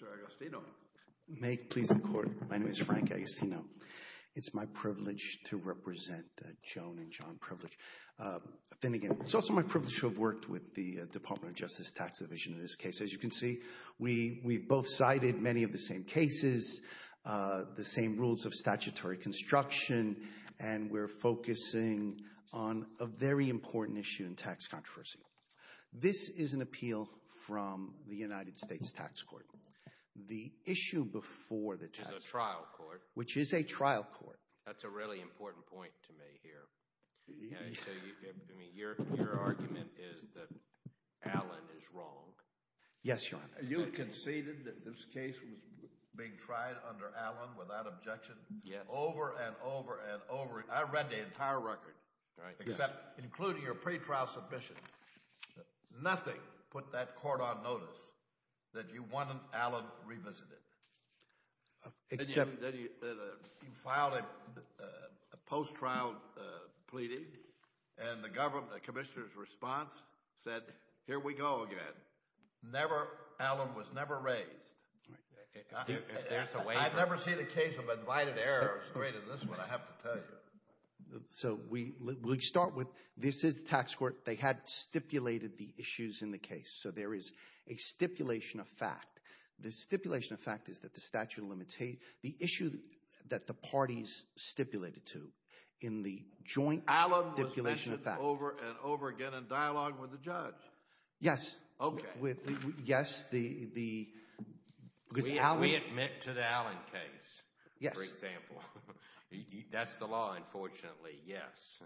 Mr. Agostino, May it please the Court, my name is Frank Agostino. It's my privilege to represent Joan and John Privilege Finnegan. It's also my privilege to have worked with the Department of Justice Tax Division in this case. As you can see, we've both cited many of the same cases, the same rules of statutory construction, and we're focusing on a very important issue in tax controversy. This is an appeal from the United States Tax Court. The issue before the tax court... Which is a trial court. Which is a trial court. That's a really important point to me here. Your argument is that Allen is wrong. Yes, Your Honor. You conceded that this case was being tried under Allen without objection over and over and over. I read the entire record, including your pretrial submission. Nothing put that court on notice that you wanted Allen revisited. Except... You filed a post-trial pleading, and the government, the commissioner's response said, here we go again. Never, Allen was never raised. I've never seen a case of invited error as great as this one, I have to tell you. So, we start with, this is the tax court, they had stipulated the issues in the case, so there is a stipulation of fact. The stipulation of fact is that the statute of limitations, the issue that the parties stipulated to in the joint stipulation of fact... Allen was mentioned over and over again in dialogue with the judge. Yes. Okay. Yes, the... We admit to the Allen case, for example. That's the law, unfortunately, yes.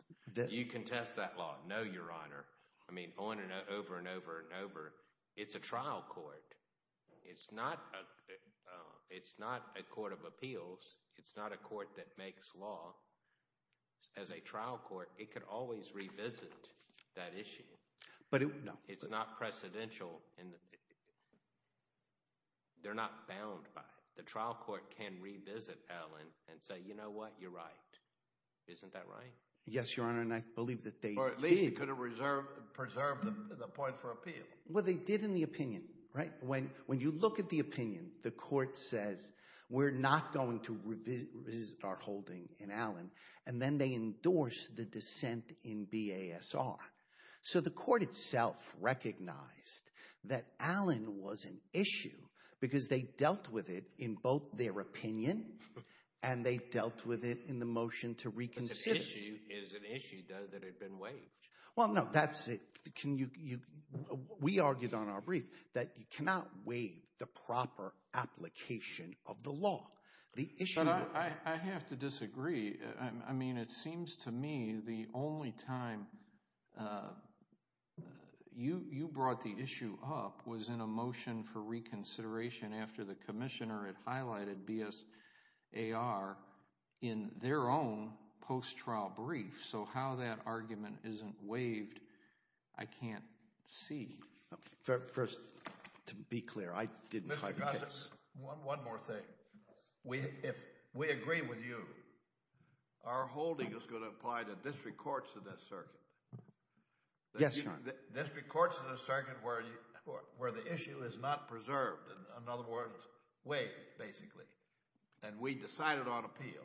You contest that law, no, Your Honor. I mean, over and over and over and over. It's a trial court. It's not a court of appeals. It's not a court that makes law. As a trial court, it could always revisit that issue. But it... No. It's not precedential. They're not bound by it. The trial court can revisit Allen and say, you know what, you're right. Isn't that right? Yes, Your Honor, and I believe that they did. Or at least it could have preserved the point for appeal. Well, they did in the opinion, right? When you look at the opinion, the court says we're not going to revisit our holding in Allen, and then they endorse the dissent in BASR. So the court itself recognized that Allen was an issue because they dealt with it in both their opinion and they dealt with it in the motion to reconsider. But an issue is an issue, though, that had been waived. Well, no, that's it. We argued on our brief that you cannot waive the proper application of the law. The issue... But I have to disagree. I mean, it seems to me the only time you brought the issue up was in a motion for reconsideration after the commissioner had highlighted BASR in their own post-trial brief. So how that argument isn't waived, I can't see. First, to be clear, I didn't fight the case. One more thing. If we agree with you, our holding is going to apply to district courts in this circuit. Yes, Your Honor. District courts in a circuit where the issue is not preserved, in other words, waived, basically, and we decided on appeal,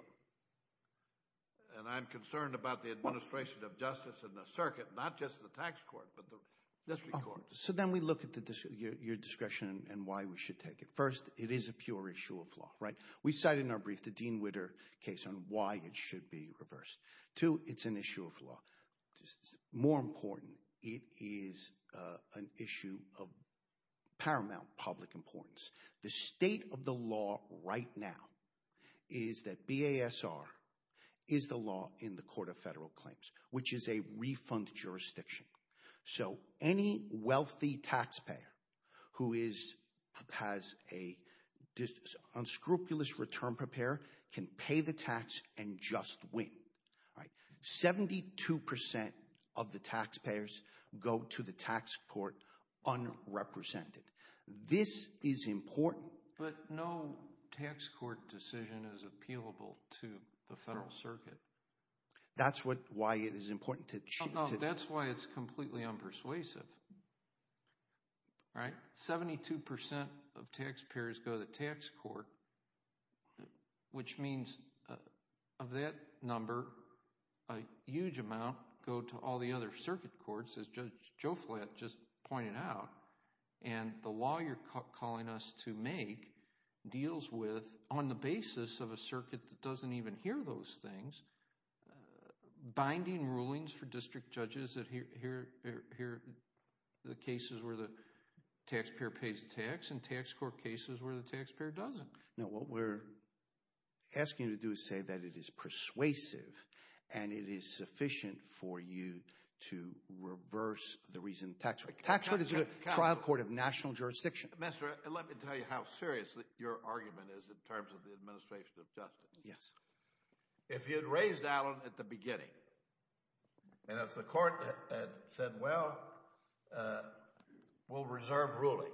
and I'm concerned about the administration of justice in the circuit, not just the tax court, but the district courts. So then we look at your discretion and why we should take it. First, it is a pure issue of law, right? We cite in our brief the Dean Witter case on why it should be reversed. Two, it's an issue of law. More important, it is an issue of paramount public importance. The state of the law right now is that BASR is the law in the Court of Federal Claims, which is a refund jurisdiction. So any wealthy taxpayer who has an unscrupulous return prepare can pay the tax and just win. 72% of the taxpayers go to the tax court unrepresented. This is important. But no tax court decision is appealable to the Federal Circuit. That's why it is important to cheat. No, that's why it's completely unpersuasive, right? 72% of taxpayers go to the tax court, which means of that number, a huge amount go to all the other And the law you're calling us to make deals with, on the basis of a circuit that doesn't even hear those things, binding rulings for district judges that hear the cases where the taxpayer pays tax and tax court cases where the taxpayer doesn't. No, what we're asking you to do is say that it is persuasive and it is sufficient for you to reverse the reason the tax court— Tax court is a trial court of national jurisdiction. Minister, let me tell you how serious your argument is in terms of the administration of justice. Yes. If you'd raised Alan at the beginning, and if the court had said, well, we'll reserve ruling,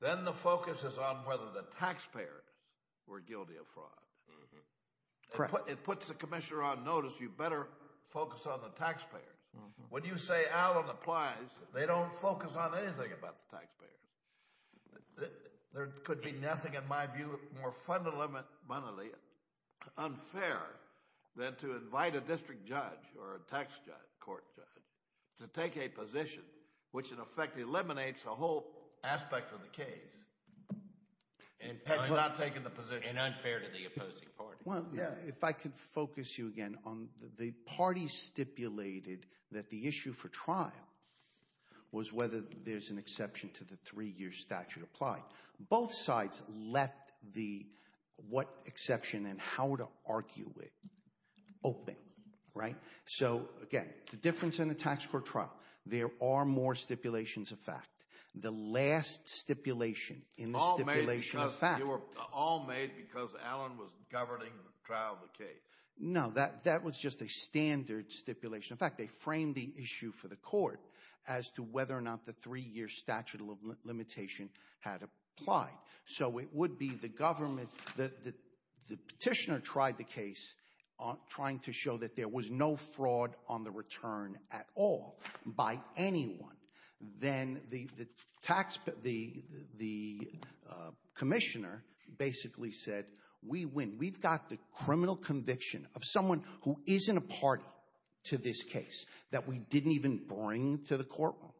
then the focus is on whether the taxpayers were guilty of fraud. Correct. It puts the commissioner on notice, you better focus on the taxpayers. When you say Alan applies, they don't focus on anything about the taxpayers. There could be nothing, in my view, more fundamentally unfair than to invite a district judge or a tax court judge to take a position which, in effect, eliminates a whole aspect of the case. And unfair to the opposing party. Well, if I could focus you again on the parties stipulated that the issue for trial was whether there's an exception to the three-year statute applied. Both sides left the what exception and how to argue it open, right? So, again, the difference in a tax court trial, there are more stipulations of fact. The last stipulation in the stipulation of fact— No, that was just a standard stipulation. In fact, they framed the issue for the court as to whether or not the three-year statute of limitation had applied. So it would be the government—the petitioner tried the case trying to show that there was no fraud on the return at all by anyone. Then the tax—the commissioner basically said, we win. We've got the criminal conviction of someone who isn't a party to this case that we didn't even bring to the courtroom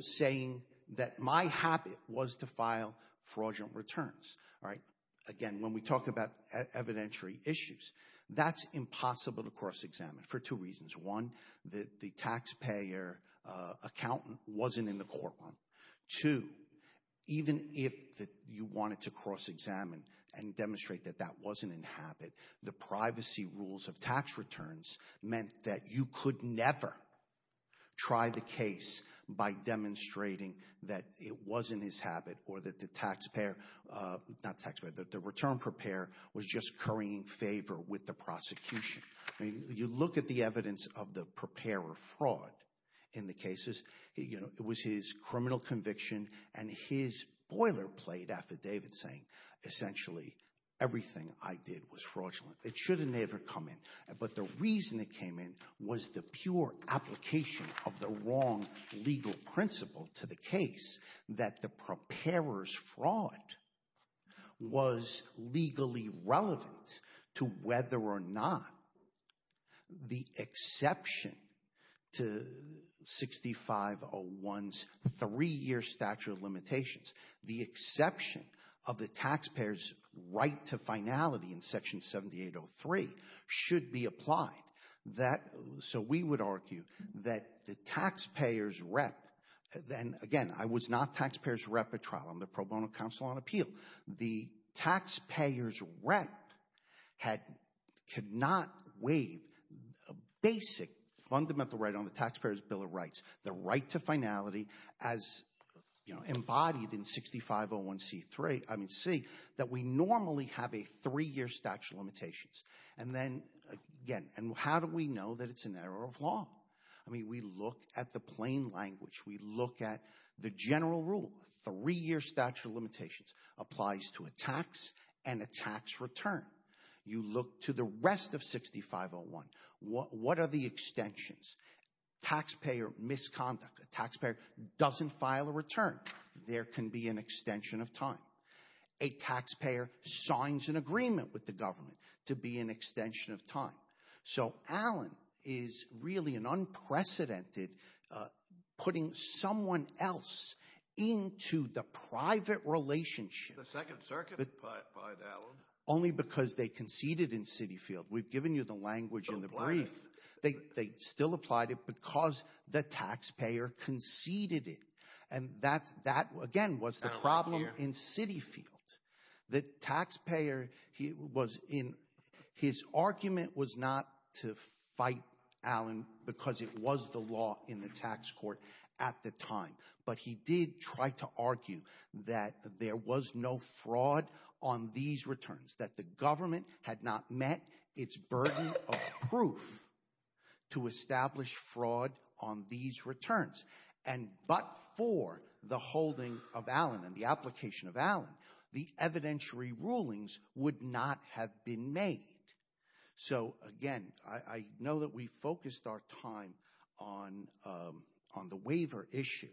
saying that my habit was to file fraudulent returns, right? Again, when we talk about evidentiary issues, that's impossible to cross-examine for two reasons. One, that the taxpayer accountant wasn't in the courtroom. Two, even if you wanted to cross-examine and demonstrate that that wasn't in habit, the privacy rules of tax returns meant that you could never try the case by demonstrating that it wasn't his habit or that the taxpayer—not taxpayer—the return preparer was just currying favor with the prosecution. You look at the evidence of the preparer fraud in the cases. It was his criminal conviction, and his boilerplate affidavit saying essentially everything I did was fraudulent. It should have never come in, but the reason it came in was the pure application of the wrong legal principle to the case that the preparer's fraud was legally relevant to whether or not the exception to 6501's three-year statute of limitations, the exception of the taxpayer's right to finality in Section 7803, should be applied. So we would argue that the taxpayer's rep—and again, I was not taxpayer's rep at trial. I'm the pro bono counsel on appeal. The taxpayer's rep could not waive a basic fundamental right on the taxpayer's bill of rights, the right to finality as embodied in 6501C3—I mean C—that we normally have a three-year statute of limitations. And then again, how do we know that it's an error of law? I mean, we look at the plain language. We look at the general rule. Three-year statute of limitations applies to a tax and a tax return. You look to the rest of 6501. What are the extensions? Taxpayer misconduct. A taxpayer doesn't file a return. There can be an extension of time. A taxpayer signs an agreement with the government to be an extension of time. So Allen is really an unprecedented—putting someone else into the private relationship— The Second Circuit applied that one. —only because they conceded in CitiField. We've given you the language in the brief. They still applied it because the taxpayer conceded it. And that, again, was the problem in CitiField. The taxpayer was in—his argument was not to fight Allen because it was the law in the tax court at the time. But he did try to argue that there was no fraud on these returns, that the government had not met its burden of proof to establish fraud on these returns. And but for the holding of Allen and the application of Allen, the evidentiary rulings would not have been made. So, again, I know that we focused our time on the waiver issue.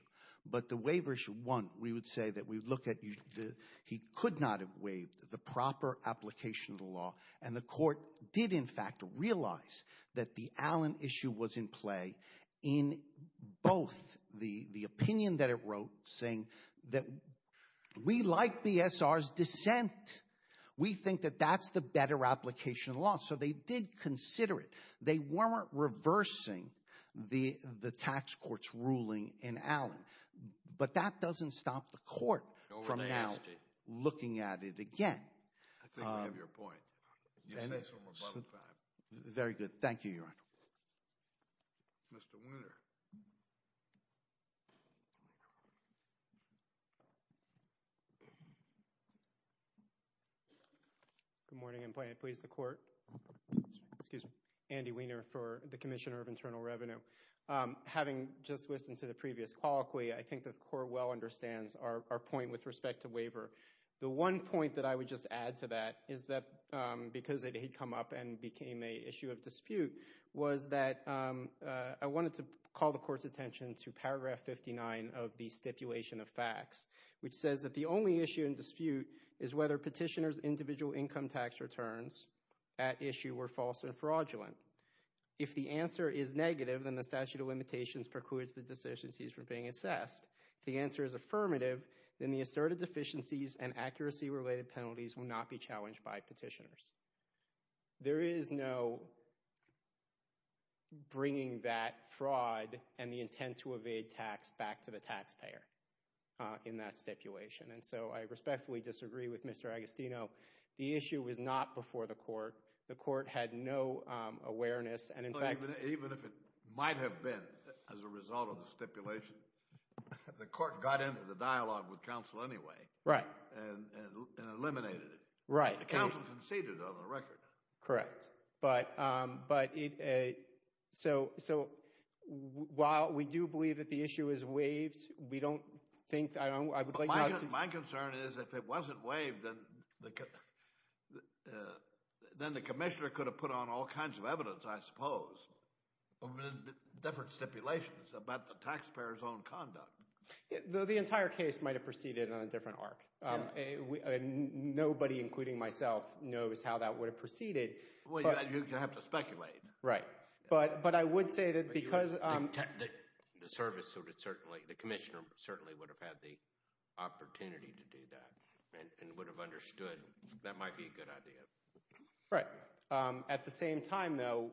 But the waiver issue, one, we would say that we look at—he could not have waived the proper application of the law. And the court did, in fact, realize that the Allen issue was in play in both the opinion that it wrote saying that we like BSR's dissent. We think that that's the better application of the law. So they did consider it. They weren't reversing the tax court's ruling in Allen. But that doesn't stop the court from now looking at it again. I think we have your point. Very good. Thank you, Your Honor. Mr. Weiner. Good morning, and may it please the Court. Excuse me. Andy Weiner for the Commissioner of Internal Revenue. Having just listened to the previous colloquy, I think the Court well understands our point with respect to waiver. The one point that I would just add to that is that because it had come up and became an issue of dispute was that I wanted to call the Court's attention to paragraph 59 of the Stipulation of Facts, which says that the only issue in dispute is whether petitioners' individual income tax returns at issue were false and fraudulent. If the answer is negative, then the statute of limitations precludes the deficiencies from being assessed. If the answer is affirmative, then the asserted deficiencies and accuracy-related penalties will not be challenged by petitioners. There is no bringing that fraud and the intent to evade tax back to the taxpayer in that stipulation. And so I respectfully disagree with Mr. Agostino. Even if it might have been as a result of the stipulation, the Court got into the dialogue with counsel anyway and eliminated it. The counsel conceded on the record. Correct. So while we do believe that the issue is waived, we don't think – I would like not to – My concern is if it wasn't waived, then the commissioner could have put on all kinds of evidence, I suppose, of different stipulations about the taxpayer's own conduct. The entire case might have proceeded on a different arc. Nobody, including myself, knows how that would have proceeded. Well, you'd have to speculate. Right. But I would say that because – The service would have certainly – the commissioner certainly would have had the opportunity to do that and would have understood that might be a good idea. Right. At the same time, though,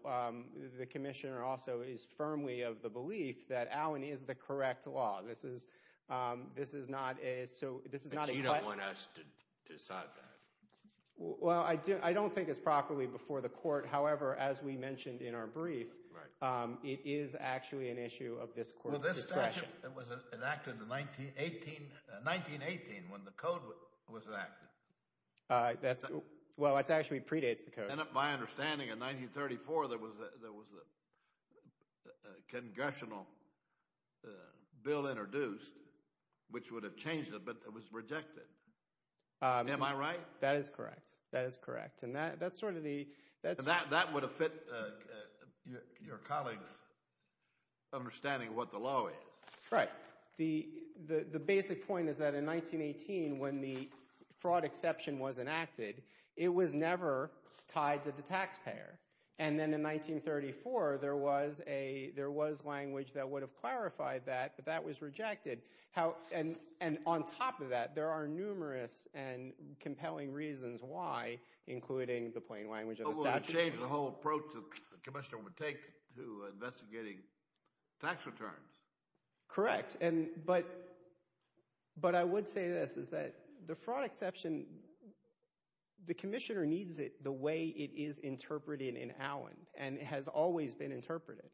the commissioner also is firmly of the belief that Allen is the correct law. This is not a – But you don't want us to decide that. Well, I don't think it's properly before the court. However, as we mentioned in our brief, it is actually an issue of this court's discretion. Well, this statute was enacted in 1918 when the code was enacted. Well, that actually predates the code. And my understanding, in 1934 there was a congressional bill introduced which would have changed it, but it was rejected. Am I right? That is correct. That is correct. And that's sort of the – That would have fit your colleague's understanding of what the law is. Right. The basic point is that in 1918 when the fraud exception was enacted, it was never tied to the taxpayer. And then in 1934 there was language that would have clarified that, but that was rejected. And on top of that, there are numerous and compelling reasons why, including the plain language of the statute. Well, it would have changed the whole approach the commissioner would take to investigating tax returns. Correct. But I would say this, is that the fraud exception, the commissioner needs it the way it is interpreted in Allen, and it has always been interpreted.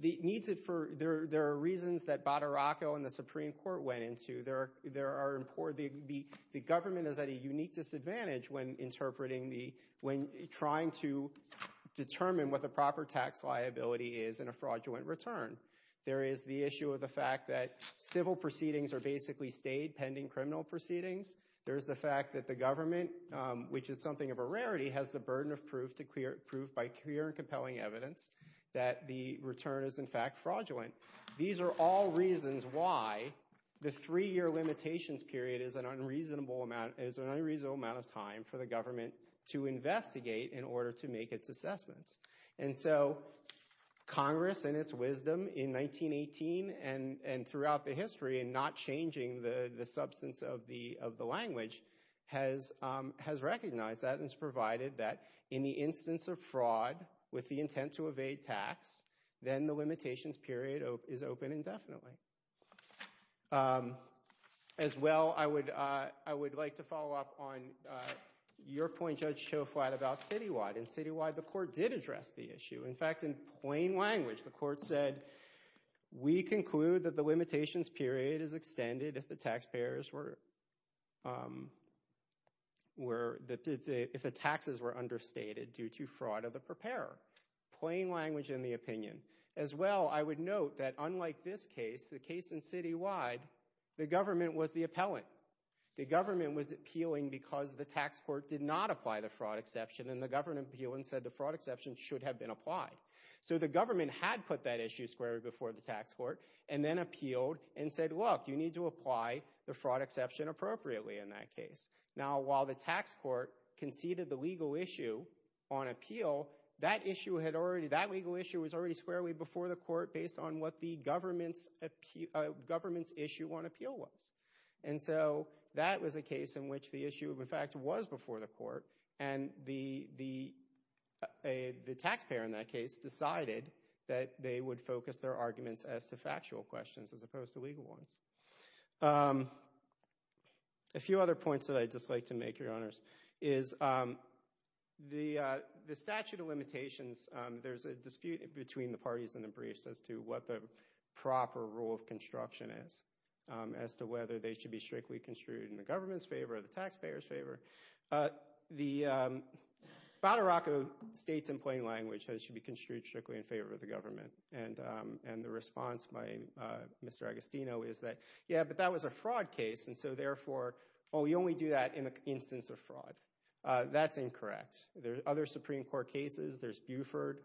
There are reasons that Badaracco and the Supreme Court went into. The government is at a unique disadvantage when trying to determine what the proper tax liability is in a fraudulent return. There is the issue of the fact that civil proceedings are basically stayed pending criminal proceedings. There is the fact that the government, which is something of a rarity, has the burden of proof by clear and compelling evidence that the return is, in fact, fraudulent. These are all reasons why the three-year limitations period is an unreasonable amount of time for the government to investigate in order to make its assessments. And so Congress, in its wisdom in 1918 and throughout the history, in not changing the substance of the language, has recognized that and has provided that in the instance of fraud with the intent to evade tax, then the limitations period is open indefinitely. As well, I would like to follow up on your point, Judge Choflat, about citywide. In citywide, the court did address the issue. In fact, in plain language, the court said, we conclude that the limitations period is extended if the taxes were understated due to fraud of the preparer. Plain language in the opinion. As well, I would note that unlike this case, the case in citywide, the government was the appellant. The government was appealing because the tax court did not apply the fraud exception and the government appealed and said the fraud exception should have been applied. So the government had put that issue squarely before the tax court and then appealed and said, look, you need to apply the fraud exception appropriately in that case. Now, while the tax court conceded the legal issue on appeal, that legal issue was already squarely before the court based on what the government's issue on appeal was. And so that was a case in which the issue, in fact, was before the court and the taxpayer in that case decided that they would focus their arguments as to factual questions as opposed to legal ones. A few other points that I'd just like to make, Your Honors, is the statute of limitations, there's a dispute between the parties in the briefs as to what the proper rule of construction is as to whether they should be strictly construed in the government's favor or the taxpayer's favor. The Boterocco states in plain language that it should be construed strictly in favor of the government. And the response by Mr. Agostino is that, yeah, but that was a fraud case and so therefore, oh, we only do that in the instance of fraud. That's incorrect. There's other Supreme Court cases. There's Buford,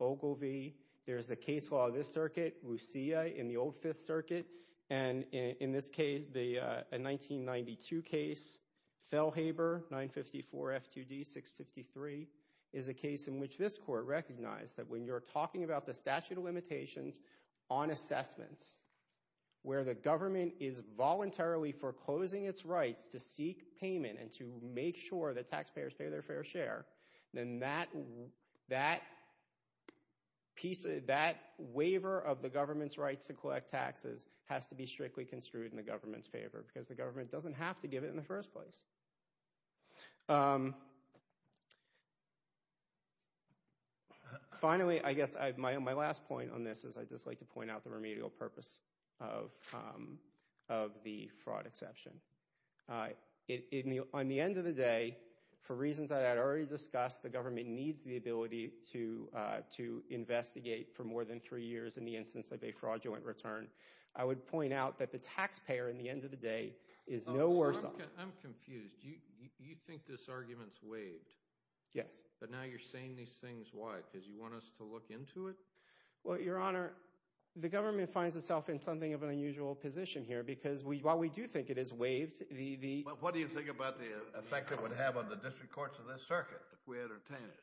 Ogilvie. There's the case law of this circuit, Roussea, in the old Fifth Circuit. And in this case, the 1992 case, Felhaber 954 F2D 653, is a case in which this court recognized that when you're talking about the statute of limitations on assessments, where the government is voluntarily foreclosing its rights to seek payment and to make sure that taxpayers pay their fair share, then that waiver of the government's rights to collect taxes has to be strictly construed in the government's favor because the government doesn't have to give it in the first place. Finally, I guess my last point on this is I'd just like to point out the remedial purpose of the fraud exception. On the end of the day, for reasons I had already discussed, the government needs the ability to investigate for more than three years in the instance of a fraudulent return. I would point out that the taxpayer in the end of the day is no worse off. I'm confused. You think this argument is waived. Yes. But now you're saying these things. Why? Because you want us to look into it? Well, Your Honor, the government finds itself in something of an unusual position here because while we do think it is waived, the— But what do you think about the effect it would have on the district courts of this circuit if we had obtained it?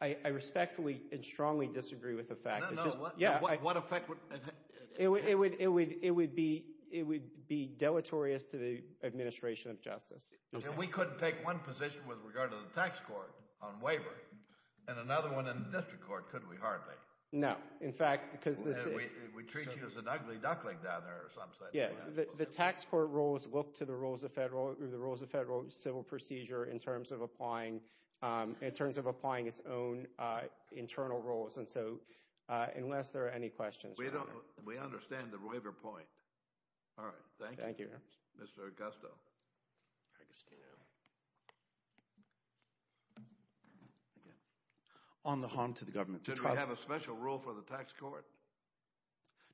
I respectfully and strongly disagree with the fact. No, no. What effect would— We couldn't take one position with regard to the tax court on waiver and another one in the district court, could we? Hardly. No. In fact— We treat you as an ugly duckling down there or something. Yeah. The tax court rules look to the rules of federal civil procedure in terms of applying its own internal rules. And so unless there are any questions— We understand the waiver point. All right. Thank you, Mr. Augusto. Augustino. On the harm to the government— Did we have a special rule for the tax court?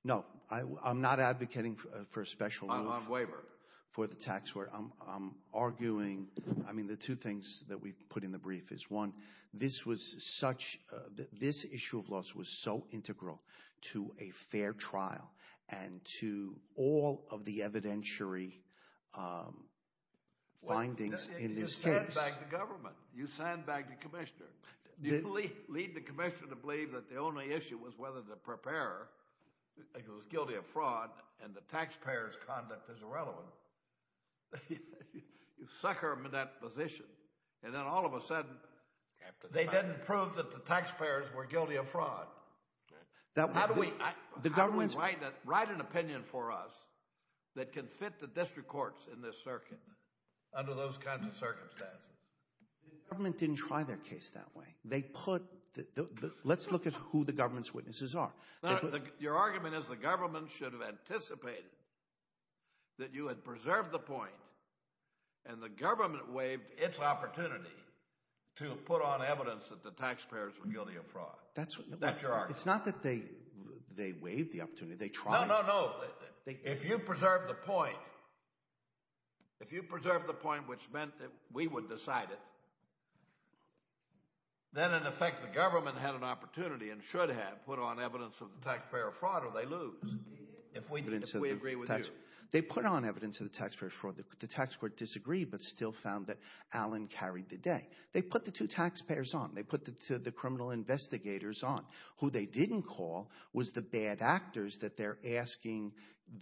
No. I'm not advocating for a special rule— On waiver. —for the tax court. I'm arguing—I mean the two things that we put in the brief is, one, this was such—this issue of loss was so integral to a fair trial and to all of the evidentiary findings in this case. You send back the government. You send back the commissioner. You lead the commissioner to believe that the only issue was whether the preparer was guilty of fraud and the taxpayers' conduct is irrelevant. You sucker him in that position. And then all of a sudden— They didn't prove that the taxpayers were guilty of fraud. How do we write an opinion for us that can fit the district courts in this circuit under those kinds of circumstances? The government didn't try their case that way. They put—let's look at who the government's witnesses are. Your argument is the government should have anticipated that you had preserved the point, and the government waived its opportunity to put on evidence that the taxpayers were guilty of fraud. That's your argument. It's not that they waived the opportunity. They tried— No, no, no. If you preserved the point, if you preserved the point which meant that we would decide it, then in effect the government had an opportunity and should have put on evidence of the taxpayer fraud or they lose if we agree with you. They put on evidence of the taxpayer fraud. The tax court disagreed but still found that Allen carried the day. They put the two taxpayers on. They put the criminal investigators on. Who they didn't call was the bad actors that they're asking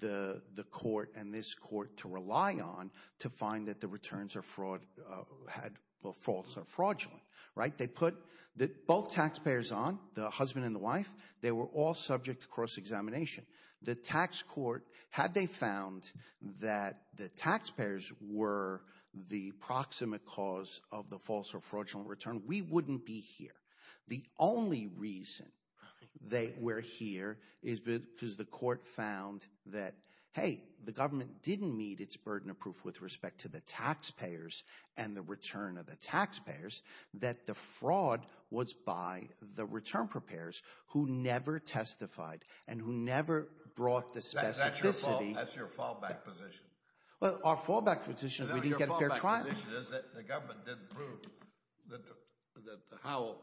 the court and this court to rely on to find that the returns are fraud—had false or fraudulent. Right? They put both taxpayers on, the husband and the wife. They were all subject to cross-examination. The tax court, had they found that the taxpayers were the proximate cause of the false or fraudulent return, we wouldn't be here. The only reason they were here is because the court found that, hey, the government didn't meet its burden of proof with respect to the taxpayers and the return of the taxpayers, that the fraud was by the return preparers who never testified and who never brought the specificity— That's your fallback position. Well, our fallback position is we didn't get a fair trial. Our fallback position is that the government didn't prove that Howell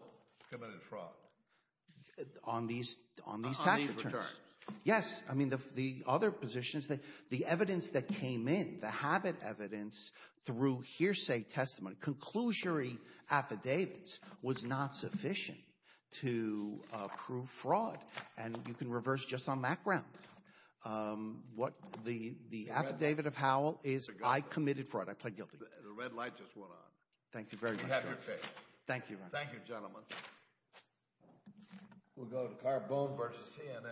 committed fraud. On these tax returns. On these returns. Yes. I mean, the other position is that the evidence that came in, the habit evidence through hearsay testimony, conclusory affidavits, was not sufficient to prove fraud. And you can reverse just on that ground. What the affidavit of Howell is, I committed fraud. I plead guilty. The red light just went on. Thank you very much. You have your pick. Thank you. Thank you, gentlemen. We'll go to Carbone versus CNN. Thank you. Thank you.